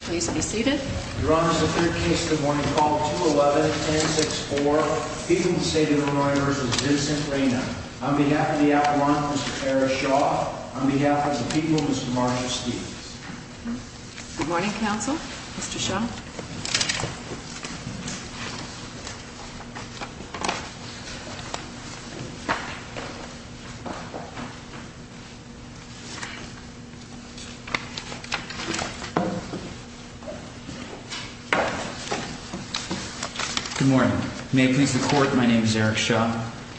please be seated your honor is the third case good morning call 211-1064 people in the state of Illinois versus Vincent Reyna on behalf of the appellant Mr. Tara Shaw on behalf of the people Mr. Marshall Steeves good morning counsel Mr. Shaw good morning may it please the court my name is Eric Shaw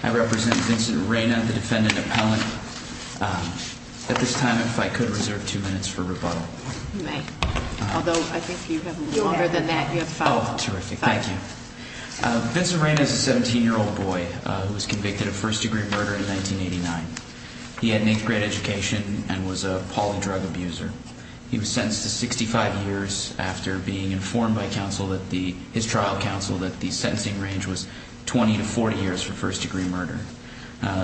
I represent Vincent Reyna the defendant appellant at this time if I could reserve two minutes for rebuttal you may although I think you have longer than that you have five oh terrific thank you Vincent Reyna is a 17 year old boy who was convicted of first degree murder in 1989 he had an eighth grade education and was a poly drug abuser he was sentenced to 65 years after being informed by counsel that the his trial counsel that the sentencing range was 20 to 40 years for first degree murder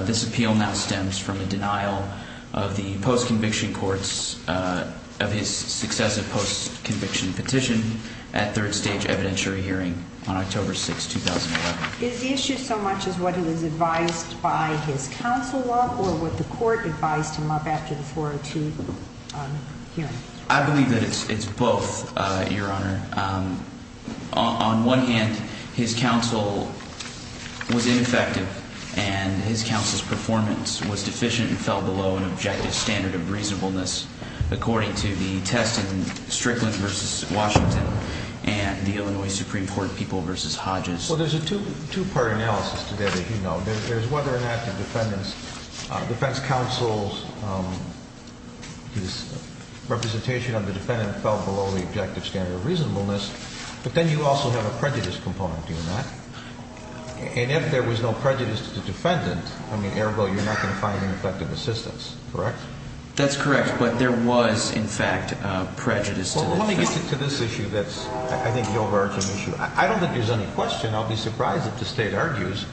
this appeal now stems from the denial of the post-conviction courts of his successive post-conviction petition at third stage evidentiary hearing on October 6 2011 is the issue so much as what he was advised by his counsel up or what the court advised him up after the 402 hearing I believe that it's it's both uh your honor um on one hand his counsel was ineffective and his counsel's performance was deficient and fell below an objective standard of reasonableness according to the test in Strickland versus Washington and the Illinois Supreme Court people versus Hodges well there's a two two-part analysis to that as you know there's whether or not the defendant's defense counsel's um his representation of the defendant fell below the objective standard of reasonableness but then you also have a prejudice component to that and if there was no prejudice to the defendant I mean airbo you're not going to find an effective assistance correct that's correct but there was in fact uh prejudice let me get to this issue that's I think the overarching issue I don't think there's any question I'll be surprised if the state argues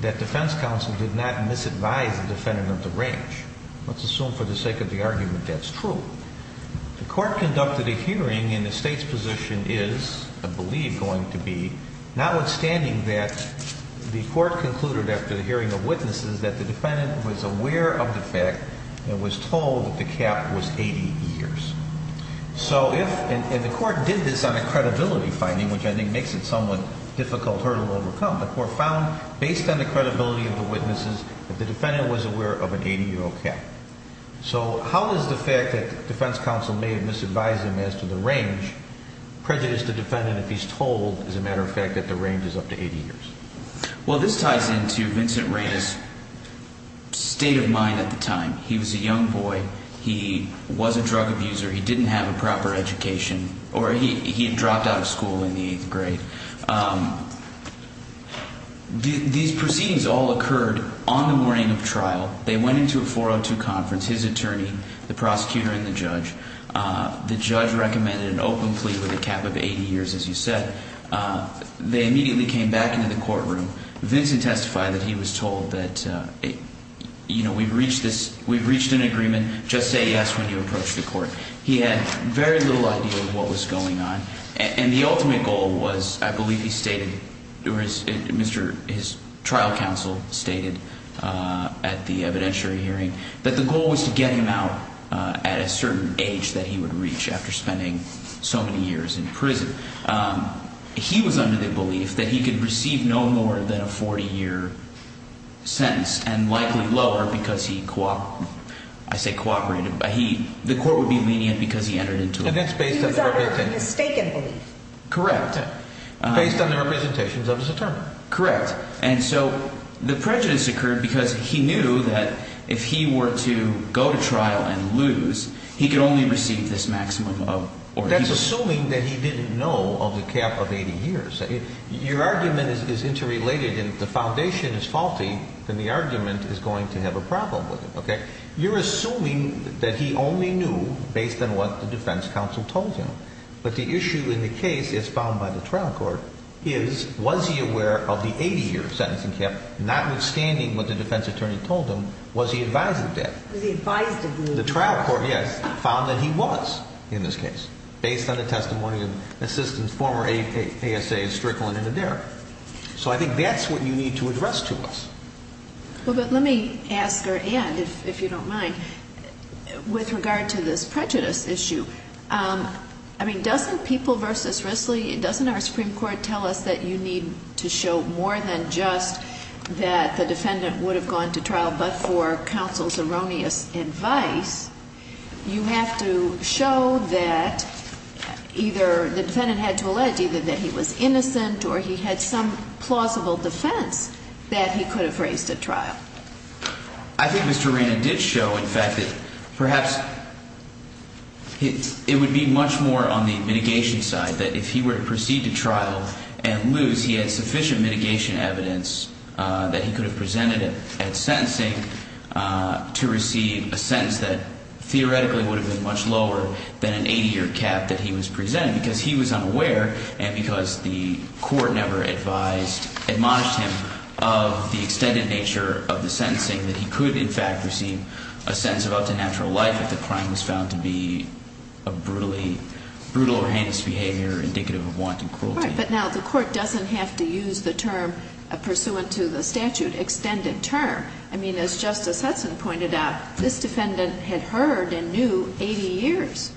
that defense counsel did not misadvise the defendant of the range let's assume for the sake of the argument that's true the court conducted a hearing in the state's position is I believe going to be notwithstanding that the court concluded after the hearing of witnesses that the defendant was aware of the fact and was told that the cap was 80 years so if and the court did this on a credibility finding which I think makes it somewhat difficult hurdle overcome the court found based on the credibility of the witnesses that the defendant was aware of an 80 year old cap so how is the fact that defense counsel may have misadvised him as to the range prejudice the defendant if he's told as a matter of fact that the range is up to 80 years well this ties into Vincent Reina's state of mind at the time he was a young boy he was a drug abuser he didn't have a proper education or he had dropped out of school in the eighth grade these proceedings all occurred on the morning of trial they went into a 402 conference his attorney the prosecutor and the judge the judge recommended an open plea with a cap of 80 years as you said they immediately came back into the courtroom Vincent testified that he was told that you know we've reached this we've reached an agreement just say yes when you approach the court he had very little idea of what was going on and the ultimate goal was I believe he stated or his trial counsel stated at the evidentiary hearing that the goal was to get him out at a certain age that he would reach after spending so many years in prison he was under the belief that he could receive no more than a 40 year sentence and likely lower because he cooperated I say cooperated but he the court would be lenient because he entered into it and that's based on the mistaken belief correct based on the representations of his attorney correct and so the prejudice occurred because he knew that if he were to go to trial and lose he could only receive this maximum of or that's assuming that he didn't know of the cap of 80 years your argument is interrelated and if the foundation is faulty then the argument is going to have a problem with it okay you're assuming that he only knew based on what the defense counsel told him but the issue in the case is found by the trial court is was he aware of the 80 year sentencing cap notwithstanding what the defense attorney told him was he advising that was he advised the trial court yes found that he was in this case based on the testimony of assistants former asa strickland and adair so i think that's what you need to address to us well but let me ask her and if you don't mind with regard to this prejudice issue um i mean doesn't people versus risley it doesn't our supreme court tell us that you need to show more than just that the defendant would have gone to trial but for counsel's erroneous advice you have to show that either the defendant had to allege either that he was innocent or he had some plausible defense that he could have raised at trial i think mr reina did show in fact that perhaps it would be much more on the mitigation side that if he were to proceed to trial and lose he had sufficient mitigation evidence uh that he could have presented it sentencing uh to receive a sentence that theoretically would have been much lower than an 80 year cap that he was presented because he was unaware and because the court never advised admonished him of the extended nature of the sentencing that he could in fact receive a sentence of up to natural life if the crime was found to be a brutally brutal or heinous behavior indicative of wanton cruelty but now the court doesn't have to use the term pursuant to the i mean as justice hudson pointed out this defendant had heard and knew 80 years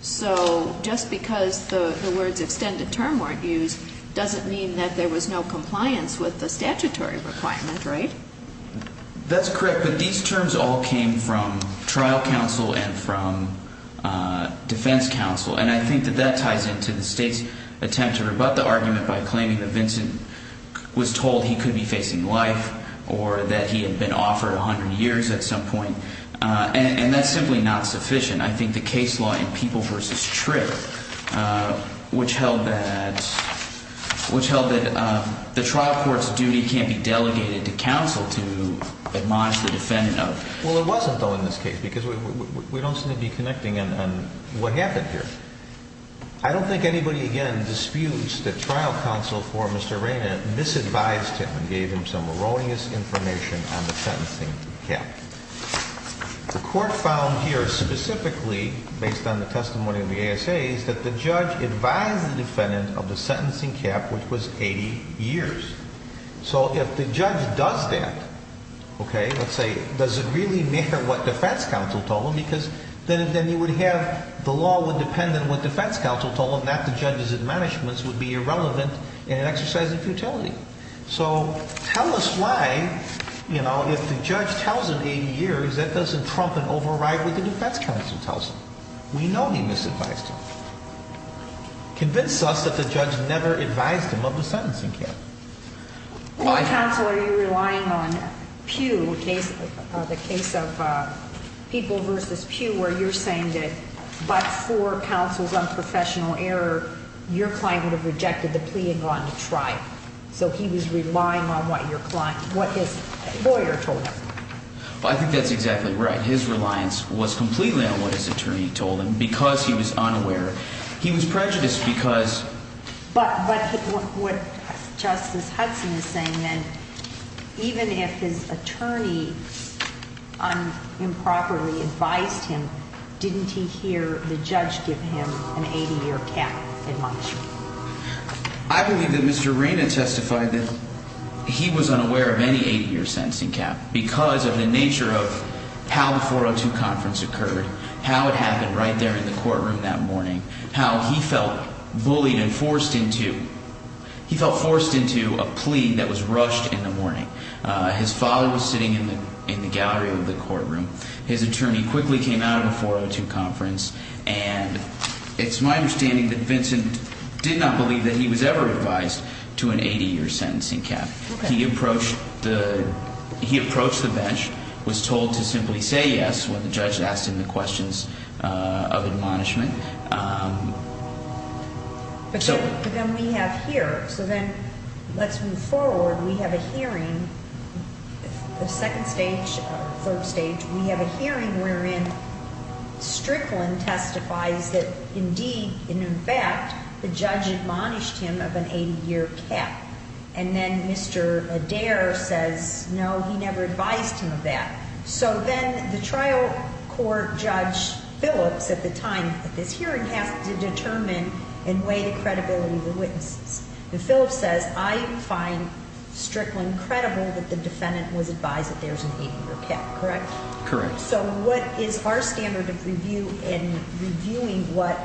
so just because the the words extended term weren't used doesn't mean that there was no compliance with the statutory requirement right that's correct but these terms all came from trial counsel and from uh defense counsel and i think that that ties into the state's attempt to rebut the argument by claiming that vincent was told he could be facing life or that he had been offered 100 years at some point uh and that's simply not sufficient i think the case law in people versus trigger which held that which held that the trial court's duty can't be delegated to counsel to admonish the defendant of well it wasn't though in this case because we we don't seem to be reina misadvised him and gave him some erroneous information on the sentencing cap the court found here specifically based on the testimony of the asa is that the judge advised the defendant of the sentencing cap which was 80 years so if the judge does that okay let's say does it really matter what defense counsel told him because then then you would have the law would depend on what defense counsel told him that the judge's admonishments would be relevant in an exercise of futility so tell us why you know if the judge tells him 80 years that doesn't trump and override what the defense counsel tells him we know he misadvised him convince us that the judge never advised him of the sentencing cap counsel are you relying on pew case the case of uh people versus pew where you're saying that for counsel's unprofessional error your client would have rejected the plea and gone to trial so he was relying on what your client what his lawyer told him well i think that's exactly right his reliance was completely on what his attorney told him because he was unaware he was prejudiced because but but what justice hudson is saying then even if his attorney unimproperly advised him didn't he hear the judge give him an 80-year cap i believe that mr reina testified that he was unaware of any 80-year sentencing cap because of the nature of how the 402 conference occurred how it happened right there in the courtroom that morning how he felt bullied and forced into he felt forced into a plea that was rushed in the in the gallery of the courtroom his attorney quickly came out of a 402 conference and it's my understanding that vincent did not believe that he was ever advised to an 80-year sentencing cap he approached the he approached the bench was told to simply say yes when the judge asked him the questions uh of admonishment um but then we have here so then let's move forward we have a hearing if the second stage third stage we have a hearing wherein strickland testifies that indeed in fact the judge admonished him of an 80-year cap and then mr adair says no he never advised him of that so then the trial court judge phillips at the time at this hearing has to the defendant was advised that there's an 80-year cap correct correct so what is our standard of review and reviewing what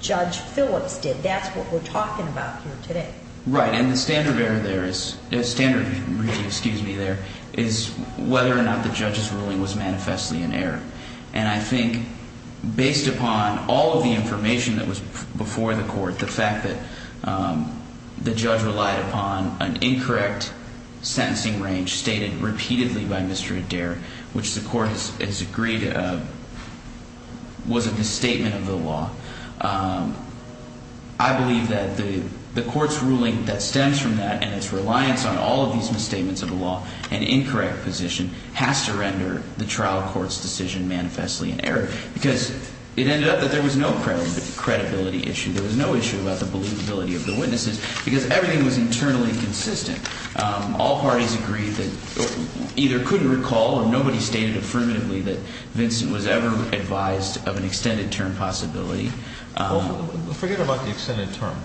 judge phillips did that's what we're talking about here today right and the standard error there is a standard review excuse me there is whether or not the judge's ruling was manifestly in error and i think based upon all of the information that was before the fact that um the judge relied upon an incorrect sentencing range stated repeatedly by mr adair which the court has agreed uh was a misstatement of the law um i believe that the the court's ruling that stems from that and its reliance on all of these misstatements of the law an incorrect position has to render the trial court's decision manifestly in error because it ended up that there was no credibility issue there was no issue about the believability of the witnesses because everything was internally consistent um all parties agreed that either couldn't recall or nobody stated affirmatively that vincent was ever advised of an extended term possibility well forget about the extended term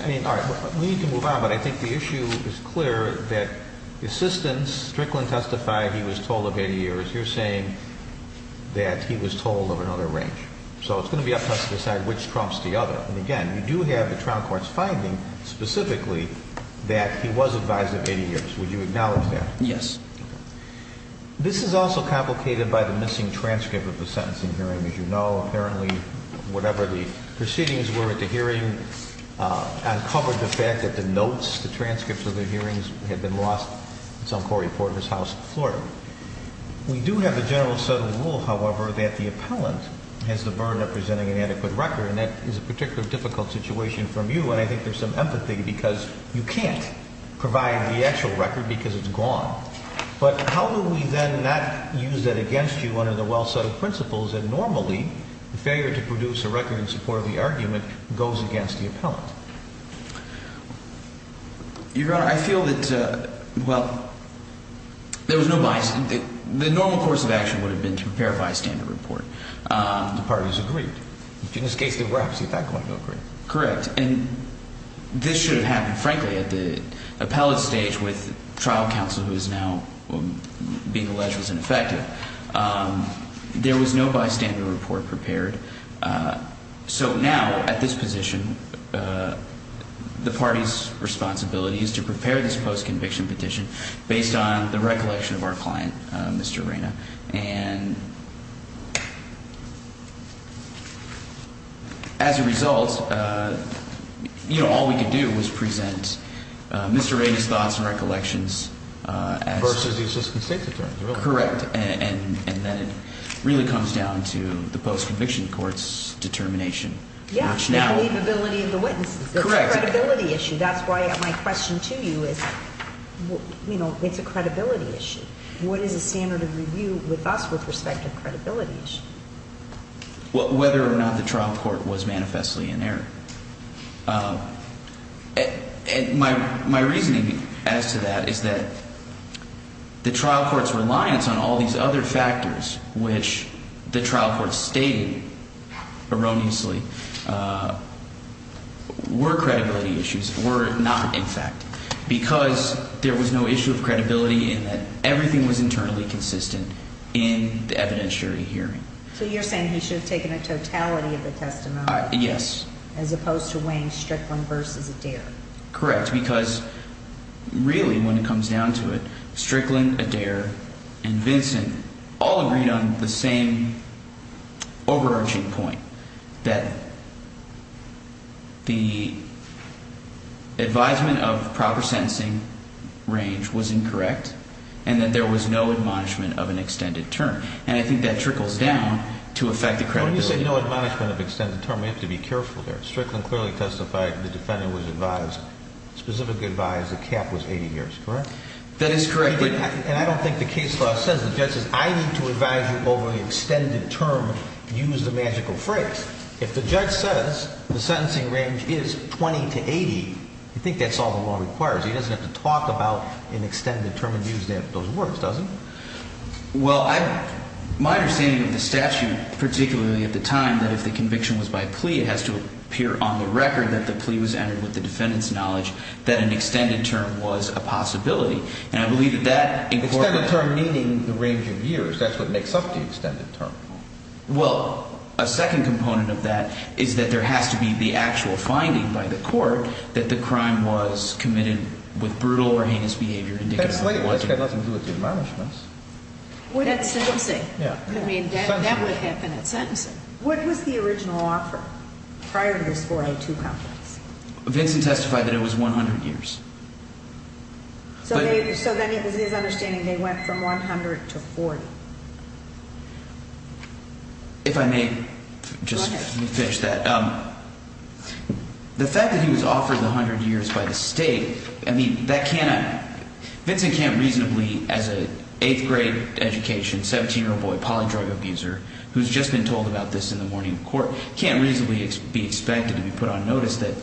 i mean all right we need to move on but i think the issue is clear that the assistance strickland testified he was told of 80 years you're saying that he was told of another range so it's going to be up to us to decide which trumps the other and again we do have the trial court's finding specifically that he was advised of 80 years would you acknowledge that yes this is also complicated by the missing transcript of the sentencing hearing as you know apparently whatever the proceedings were at the hearing uh uncovered the fact that the notes the transcripts of the hearings had been lost it's on cory porter's house florida we do have a general settled rule however that the appellant has the burden of presenting an adequate record and that is a particular difficult situation from you and i think there's some empathy because you can't provide the actual record because it's gone but how do we then not use that against you under the well-settled principles that normally the failure to produce a record in support of the argument goes against the appellant your honor i feel that uh well there was no bias the normal course of action would have been to prepare bystander report um the parties agreed in this case they were actually that going to agree correct and this should have happened frankly at the appellate stage with trial counsel who is now being alleged was ineffective um there was no bystander report prepared uh so now at this position uh the party's responsibility is to prepare this post-conviction petition based on the recollection of our client uh mr reina and as a result uh you know all we could do was present uh mr reina's thoughts and recollections versus the assistant state attorney correct and and then it really comes down to the ability of the witnesses correct credibility issue that's why i have my question to you is you know it's a credibility issue what is the standard of review with us with respect to credibility issue well whether or not the trial court was manifestly in error um and my my reasoning as to that is that the trial court's reliance on all these other factors which the trial court stated erroneously uh were credibility issues were not in fact because there was no issue of credibility and that everything was internally consistent in the evidentiary hearing so you're saying he should have taken a totality of the testimony yes as opposed to weighing strickland versus adair correct because really when it comes down to it all agreed on the same overarching point that the advisement of proper sentencing range was incorrect and that there was no admonishment of an extended term and i think that trickles down to affect the credibility you said no admonishment of extended term we have to be careful there strickland clearly testified the defendant was advised specifically advised the cap was 80 years correct that is correct and i don't think the case law says the judge says i need to advise you over the extended term use the magical phrase if the judge says the sentencing range is 20 to 80 you think that's all the law requires he doesn't have to talk about an extended term and use that those words doesn't well i my understanding of the statute particularly at the time that if the conviction was by plea it has to appear on the record that the plea was entered with the defendant's knowledge that an extended term meaning the range of years that's what makes up the extended term well a second component of that is that there has to be the actual finding by the court that the crime was committed with brutal or heinous behavior that's got nothing to do with the admonishments that's sentencing yeah i mean that would have been at sentencing what was the original offer prior to this 482 complex vincent testified that it was 100 years so they so then it was his understanding they went from 100 to 40 if i may just finish that um the fact that he was offered 100 years by the state i mean that can't vincent can't reasonably as a eighth grade education 17 year old boy poly drug abuser who's just been told about this in the morning court can't reasonably be expected to be put on notice that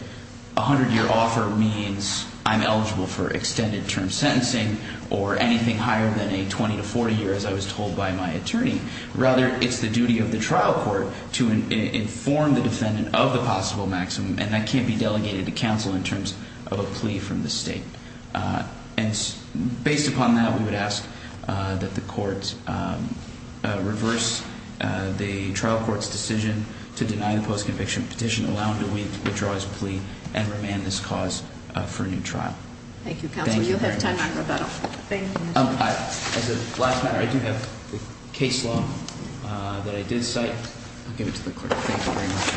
a hundred year offer means i'm eligible for extended term sentencing or anything higher than a 20 to 40 year as i was told by my attorney rather it's the duty of the trial court to inform the defendant of the possible maximum and that can't be delegated to counsel in terms of a plea from the state and based upon that we would ask that the courts reverse the trial court's decision to deny the post-conviction petition allowing to withdraw his plea and remand this cause for a new trial thank you counsel you'll have time on rebuttal thank you as a last matter i do have the case law that i did cite i'll give it to the clerk thank you very much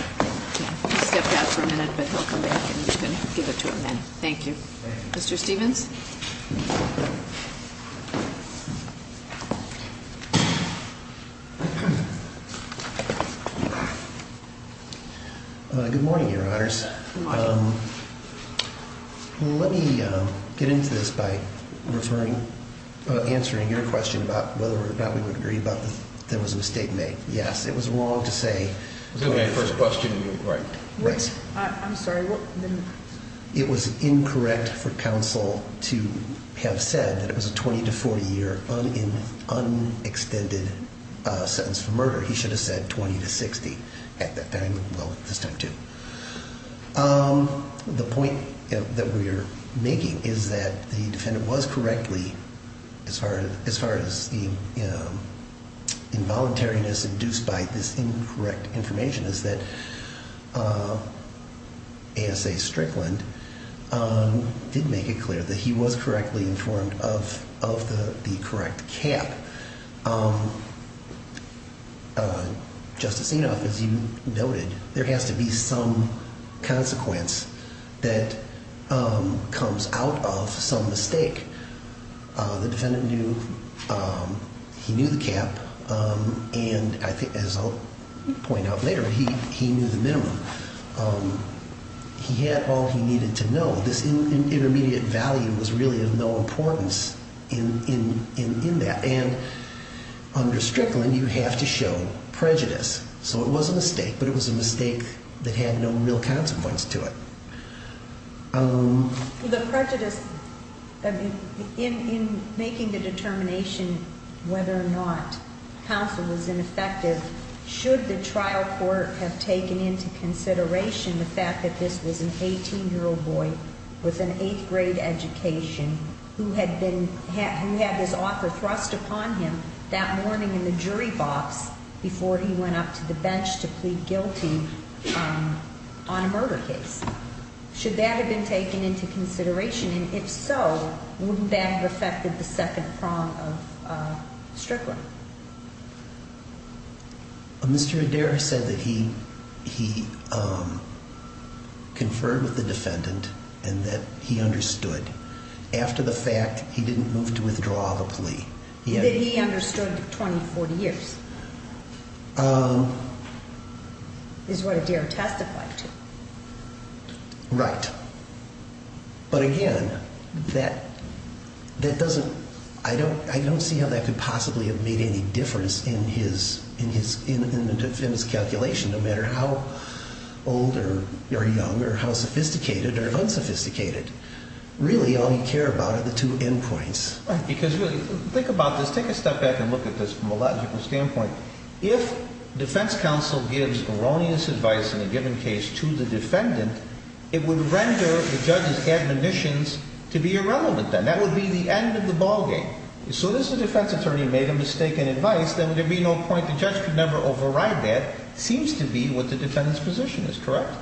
he stepped out for a minute but he'll come back and you can uh good morning your honors um let me um get into this by referring uh answering your question about whether or not we would agree about the there was a mistake made yes it was wrong to have said that it was a 20 to 40 year in unextended sentence for murder he should have said 20 to 60 at that time well this time too um the point that we are making is that the defendant was correctly as far as as far as the um involuntariness induced by this incorrect information is that uh as a strickland um did make it clear that he was correctly informed of of the the correct cap um justice enough as you noted there has to be some consequence that um point out later he he knew the minimum um he had all he needed to know this intermediate value was really of no importance in in in that and under strickland you have to show prejudice so it was a mistake but it was a mistake that had no real consequence to it um the prejudice i mean in in making the determination whether or not counsel was ineffective should the trial court have taken into consideration the fact that this was an 18 year old boy with an eighth grade education who had been who had his author thrust upon him that morning in the jury box before he went up to the bench to plead guilty on a murder case should that have been taken into consideration and if so wouldn't that have affected the second prong of uh strickland Mr. Adair said that he he um conferred with the defendant and that he understood after the fact he didn't move to withdraw the plea yeah he understood 20 40 years um is what Adair testified to right but again that that doesn't i don't i don't see how that could possibly have made any difference in his in his in in his calculation no matter how old or young or how sophisticated or unsophisticated really all you care about are the two end points right because really think about this take a step back and look at this from a standpoint if defense counsel gives erroneous advice in a given case to the defendant it would render the judge's admonitions to be irrelevant then that would be the end of the ball game so this is the defense attorney made a mistake in advice there would be no point the judge could never override that seems to be what the defendant's position is correct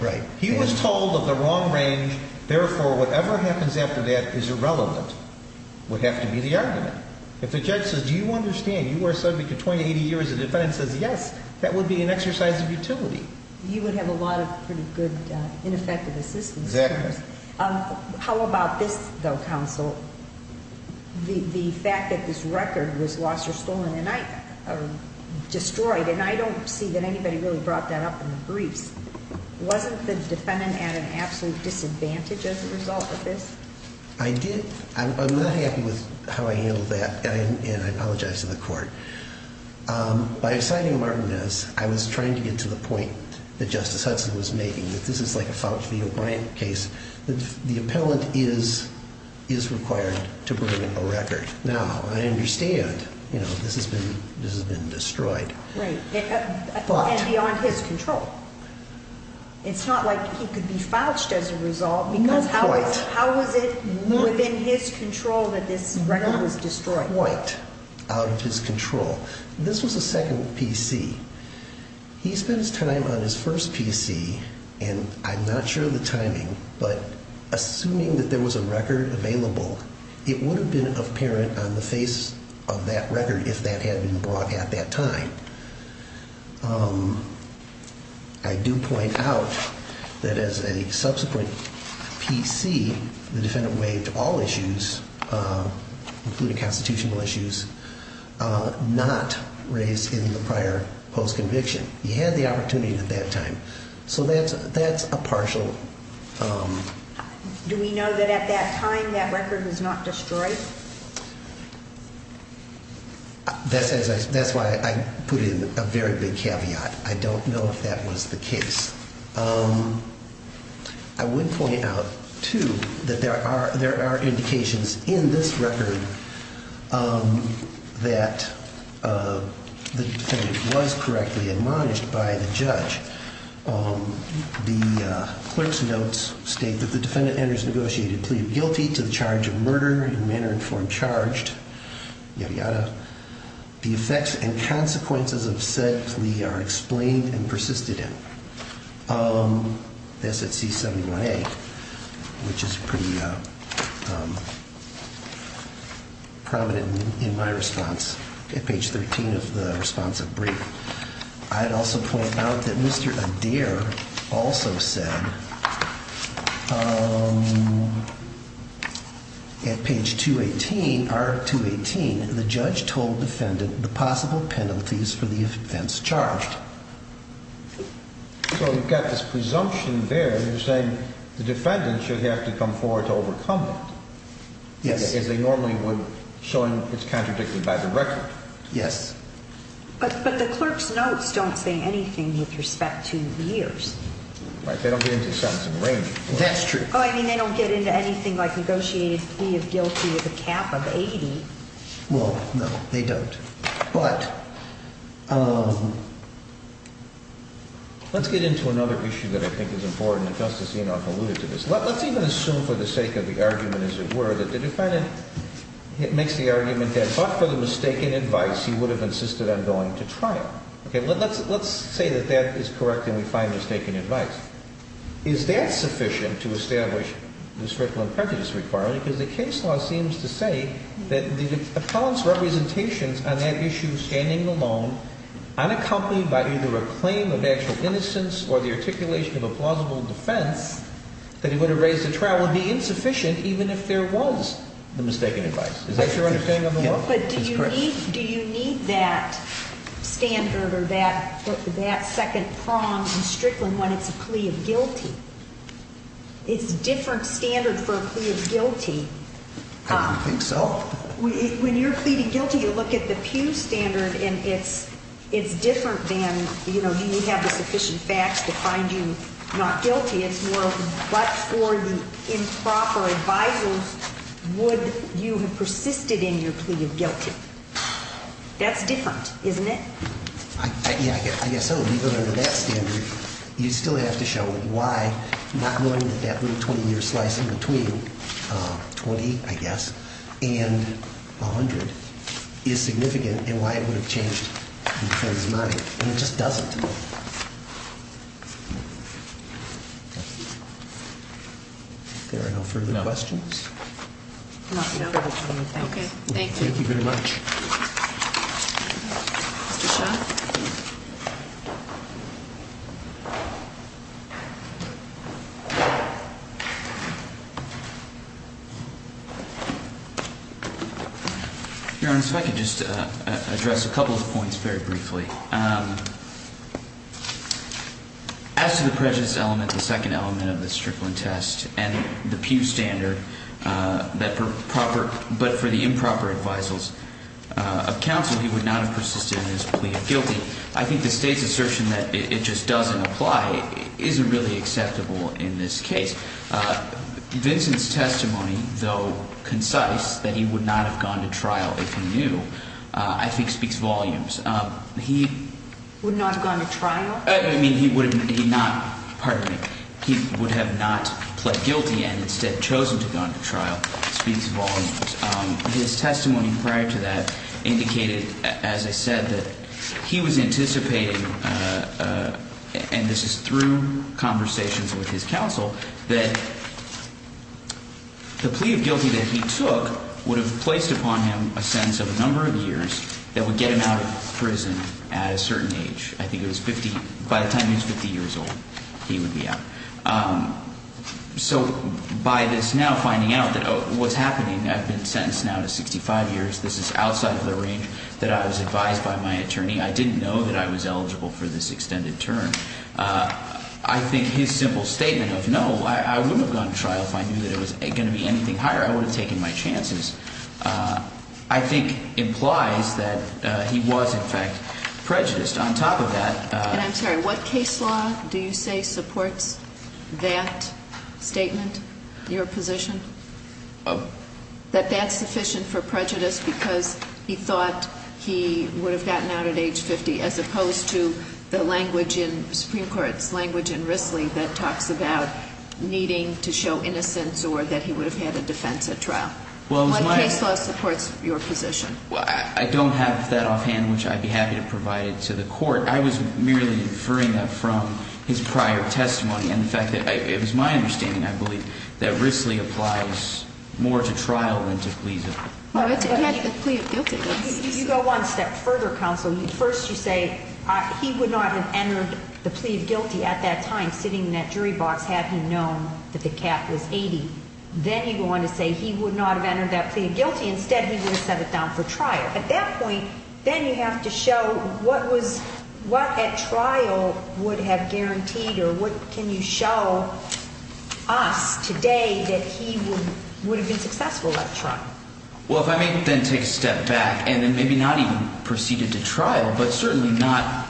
right he was told of the wrong range therefore whatever happens after that is irrelevant would have to be the worst subject to 20 80 years the defendant says yes that would be an exercise of utility you would have a lot of pretty good ineffective assistance exactly um how about this though counsel the the fact that this record was lost or stolen and i destroyed and i don't see that anybody really brought that up in the briefs wasn't the defendant at an absolute disadvantage with this i did i'm not happy with how i handled that and i apologize to the court by assigning martinez i was trying to get to the point that justice hudson was making that this is like a faucio bryant case that the appellant is is required to bring a record now i understand you know this has been this has been destroyed right and beyond his control it's not like he could be fouched as a result because how how was it within his control that this record was destroyed white out of his control this was the second pc he spent his time on his first pc and i'm not sure the timing but assuming that there was a record available it would have been apparent on the face of that record if that had been brought at that time um i do point out that as a subsequent pc the defendant waived all issues including constitutional issues not raised in the prior post-conviction he had the opportunity at that time so that's that's a partial um do we know that at that time that record was not destroyed that says that's why i put in a very big caveat i don't know if that was the case um i would point out too that there are there are indications in this record um that uh the defendant was correctly admonished by the judge um the uh clerk's notes state that the defendant enters negotiated plea of guilty to the charge of murder and manner informed charged yada yada the effects and consequences of said plea are explained and persisted in um that's at c71a which is pretty uh prominent in my response at page 13 of the responsive brief i'd also point out that mr adair also said um at page 218 r 218 the judge told defendant the possible penalties for the events charged so you've got this presumption there you're saying the defendant should have to come forward to overcome it yes as they normally would showing it's contradicted by the record yes but but the clerk's notes don't say anything with respect to years right they don't get into something range that's true oh i mean they don't get into anything like negotiated plea of guilty with a cap of 80 well no they don't but um let's get into another issue that i think is important justice you know i've alluded to this let's even assume for the sake of the argument as it were that the defendant it makes the argument that but for the mistaken advice he would have insisted on going to trial okay let's let's say that that is correct and we find mistaken advice is that sufficient to establish the strickland prejudice requirement because the case law seems to say that the appellant's representations on that issue standing alone unaccompanied by either a claim of actual innocence or the articulation of a plausible defense that he would have raised the trial would be insufficient even if there was the mistaken advice is that your understanding of the law but do you need that standard or that that second prong in strickland when it's a plea of guilty it's a different standard for a plea of guilty i don't think so when you're pleading guilty you look at the pew standard and it's it's different than you know do you have the sufficient facts to find you not guilty it's more but for the improper advisors would you have persisted in your plea of guilty that's different isn't it yeah i guess i would leave it under that standard you still have to show why not knowing that that little 20 year slice in between um 20 i guess and 100 is significant and why it would have changed because money and it just doesn't there are no further questions okay thank you thank you very much mr shot your honor if i could just uh address a couple of points very briefly um as to the prejudice element the second element of the strickland test and the pew standard uh that but for the improper advisors of counsel he would not have persisted in his plea of guilty i think the state's assertion that it just doesn't apply isn't really acceptable in this case uh vincent's testimony though concise that he would not have gone to trial if he knew i think speaks volumes um he would not have gone to trial i mean he would have not pardon me he would have not pled guilty and instead chosen to go into trial speaks volumes um his testimony prior to that indicated as i said that he was anticipating uh and this is through conversations with his counsel that the plea of guilty that he took would have placed upon him a sentence of a number of years that would get him out of prison at a certain age i think it was 50 by the time he's 50 years old he would be out um so by this now finding out that what's happening i've been sentenced now to 65 years this is outside of the range that i was advised by my attorney i didn't know that i was eligible for this extended term uh i think his simple statement of no i wouldn't have gone to trial if i knew that it was going to be anything higher i would have taken my chances uh i think implies that uh he was in fact prejudiced on top of that and i'm sorry what case law do you say supports that statement your position oh that that's sufficient for prejudice because he thought he would have gotten out at age 50 as opposed to the language in supreme court's language in risley that talks about needing to show innocence or that he would have had a defense at trial well one case law supports your position well i don't have that offhand which i'd be happy to provide it to the court i was merely inferring that from his prior testimony and the fact that it was my understanding i believe that risley applies more to trial than to please you go one step further counsel first you say he would not have entered the plea of want to say he would not have entered that plea of guilty instead he would have set it down for trial at that point then you have to show what was what at trial would have guaranteed or what can you show us today that he would would have been successful at trial well if i may then take a step back and then maybe not even proceeded to trial but certainly not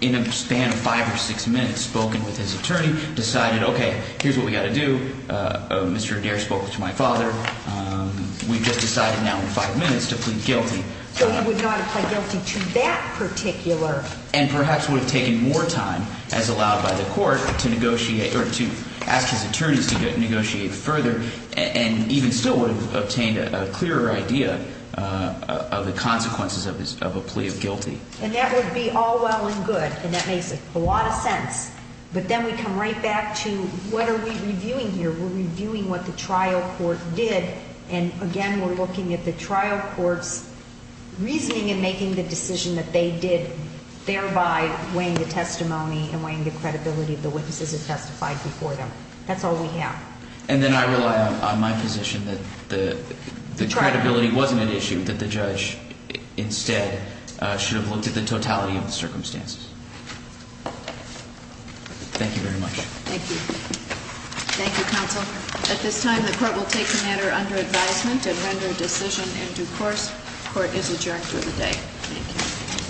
in a span of five or six minutes spoken with his attorney decided okay here's what we got to do uh mr dare spoke to my father um we've just decided now in five minutes to plead guilty so he would not apply guilty to that particular and perhaps would have taken more time as allowed by the court to negotiate or to ask his attorneys to negotiate further and even still would have obtained a clearer idea of the consequences of his of a plea of guilty and that would be all well and good and that a lot of sense but then we come right back to what are we reviewing here we're reviewing what the trial court did and again we're looking at the trial court's reasoning and making the decision that they did thereby weighing the testimony and weighing the credibility of the witnesses that testified before them that's all we have and then i rely on my position that the the credibility wasn't an issue that the judge instead uh should have looked at the totality of the testimony and that's all i have to say thank you very much thank you thank you counsel at this time the court will take the matter under advisement and render a decision in due course court is adjourned for the day thank you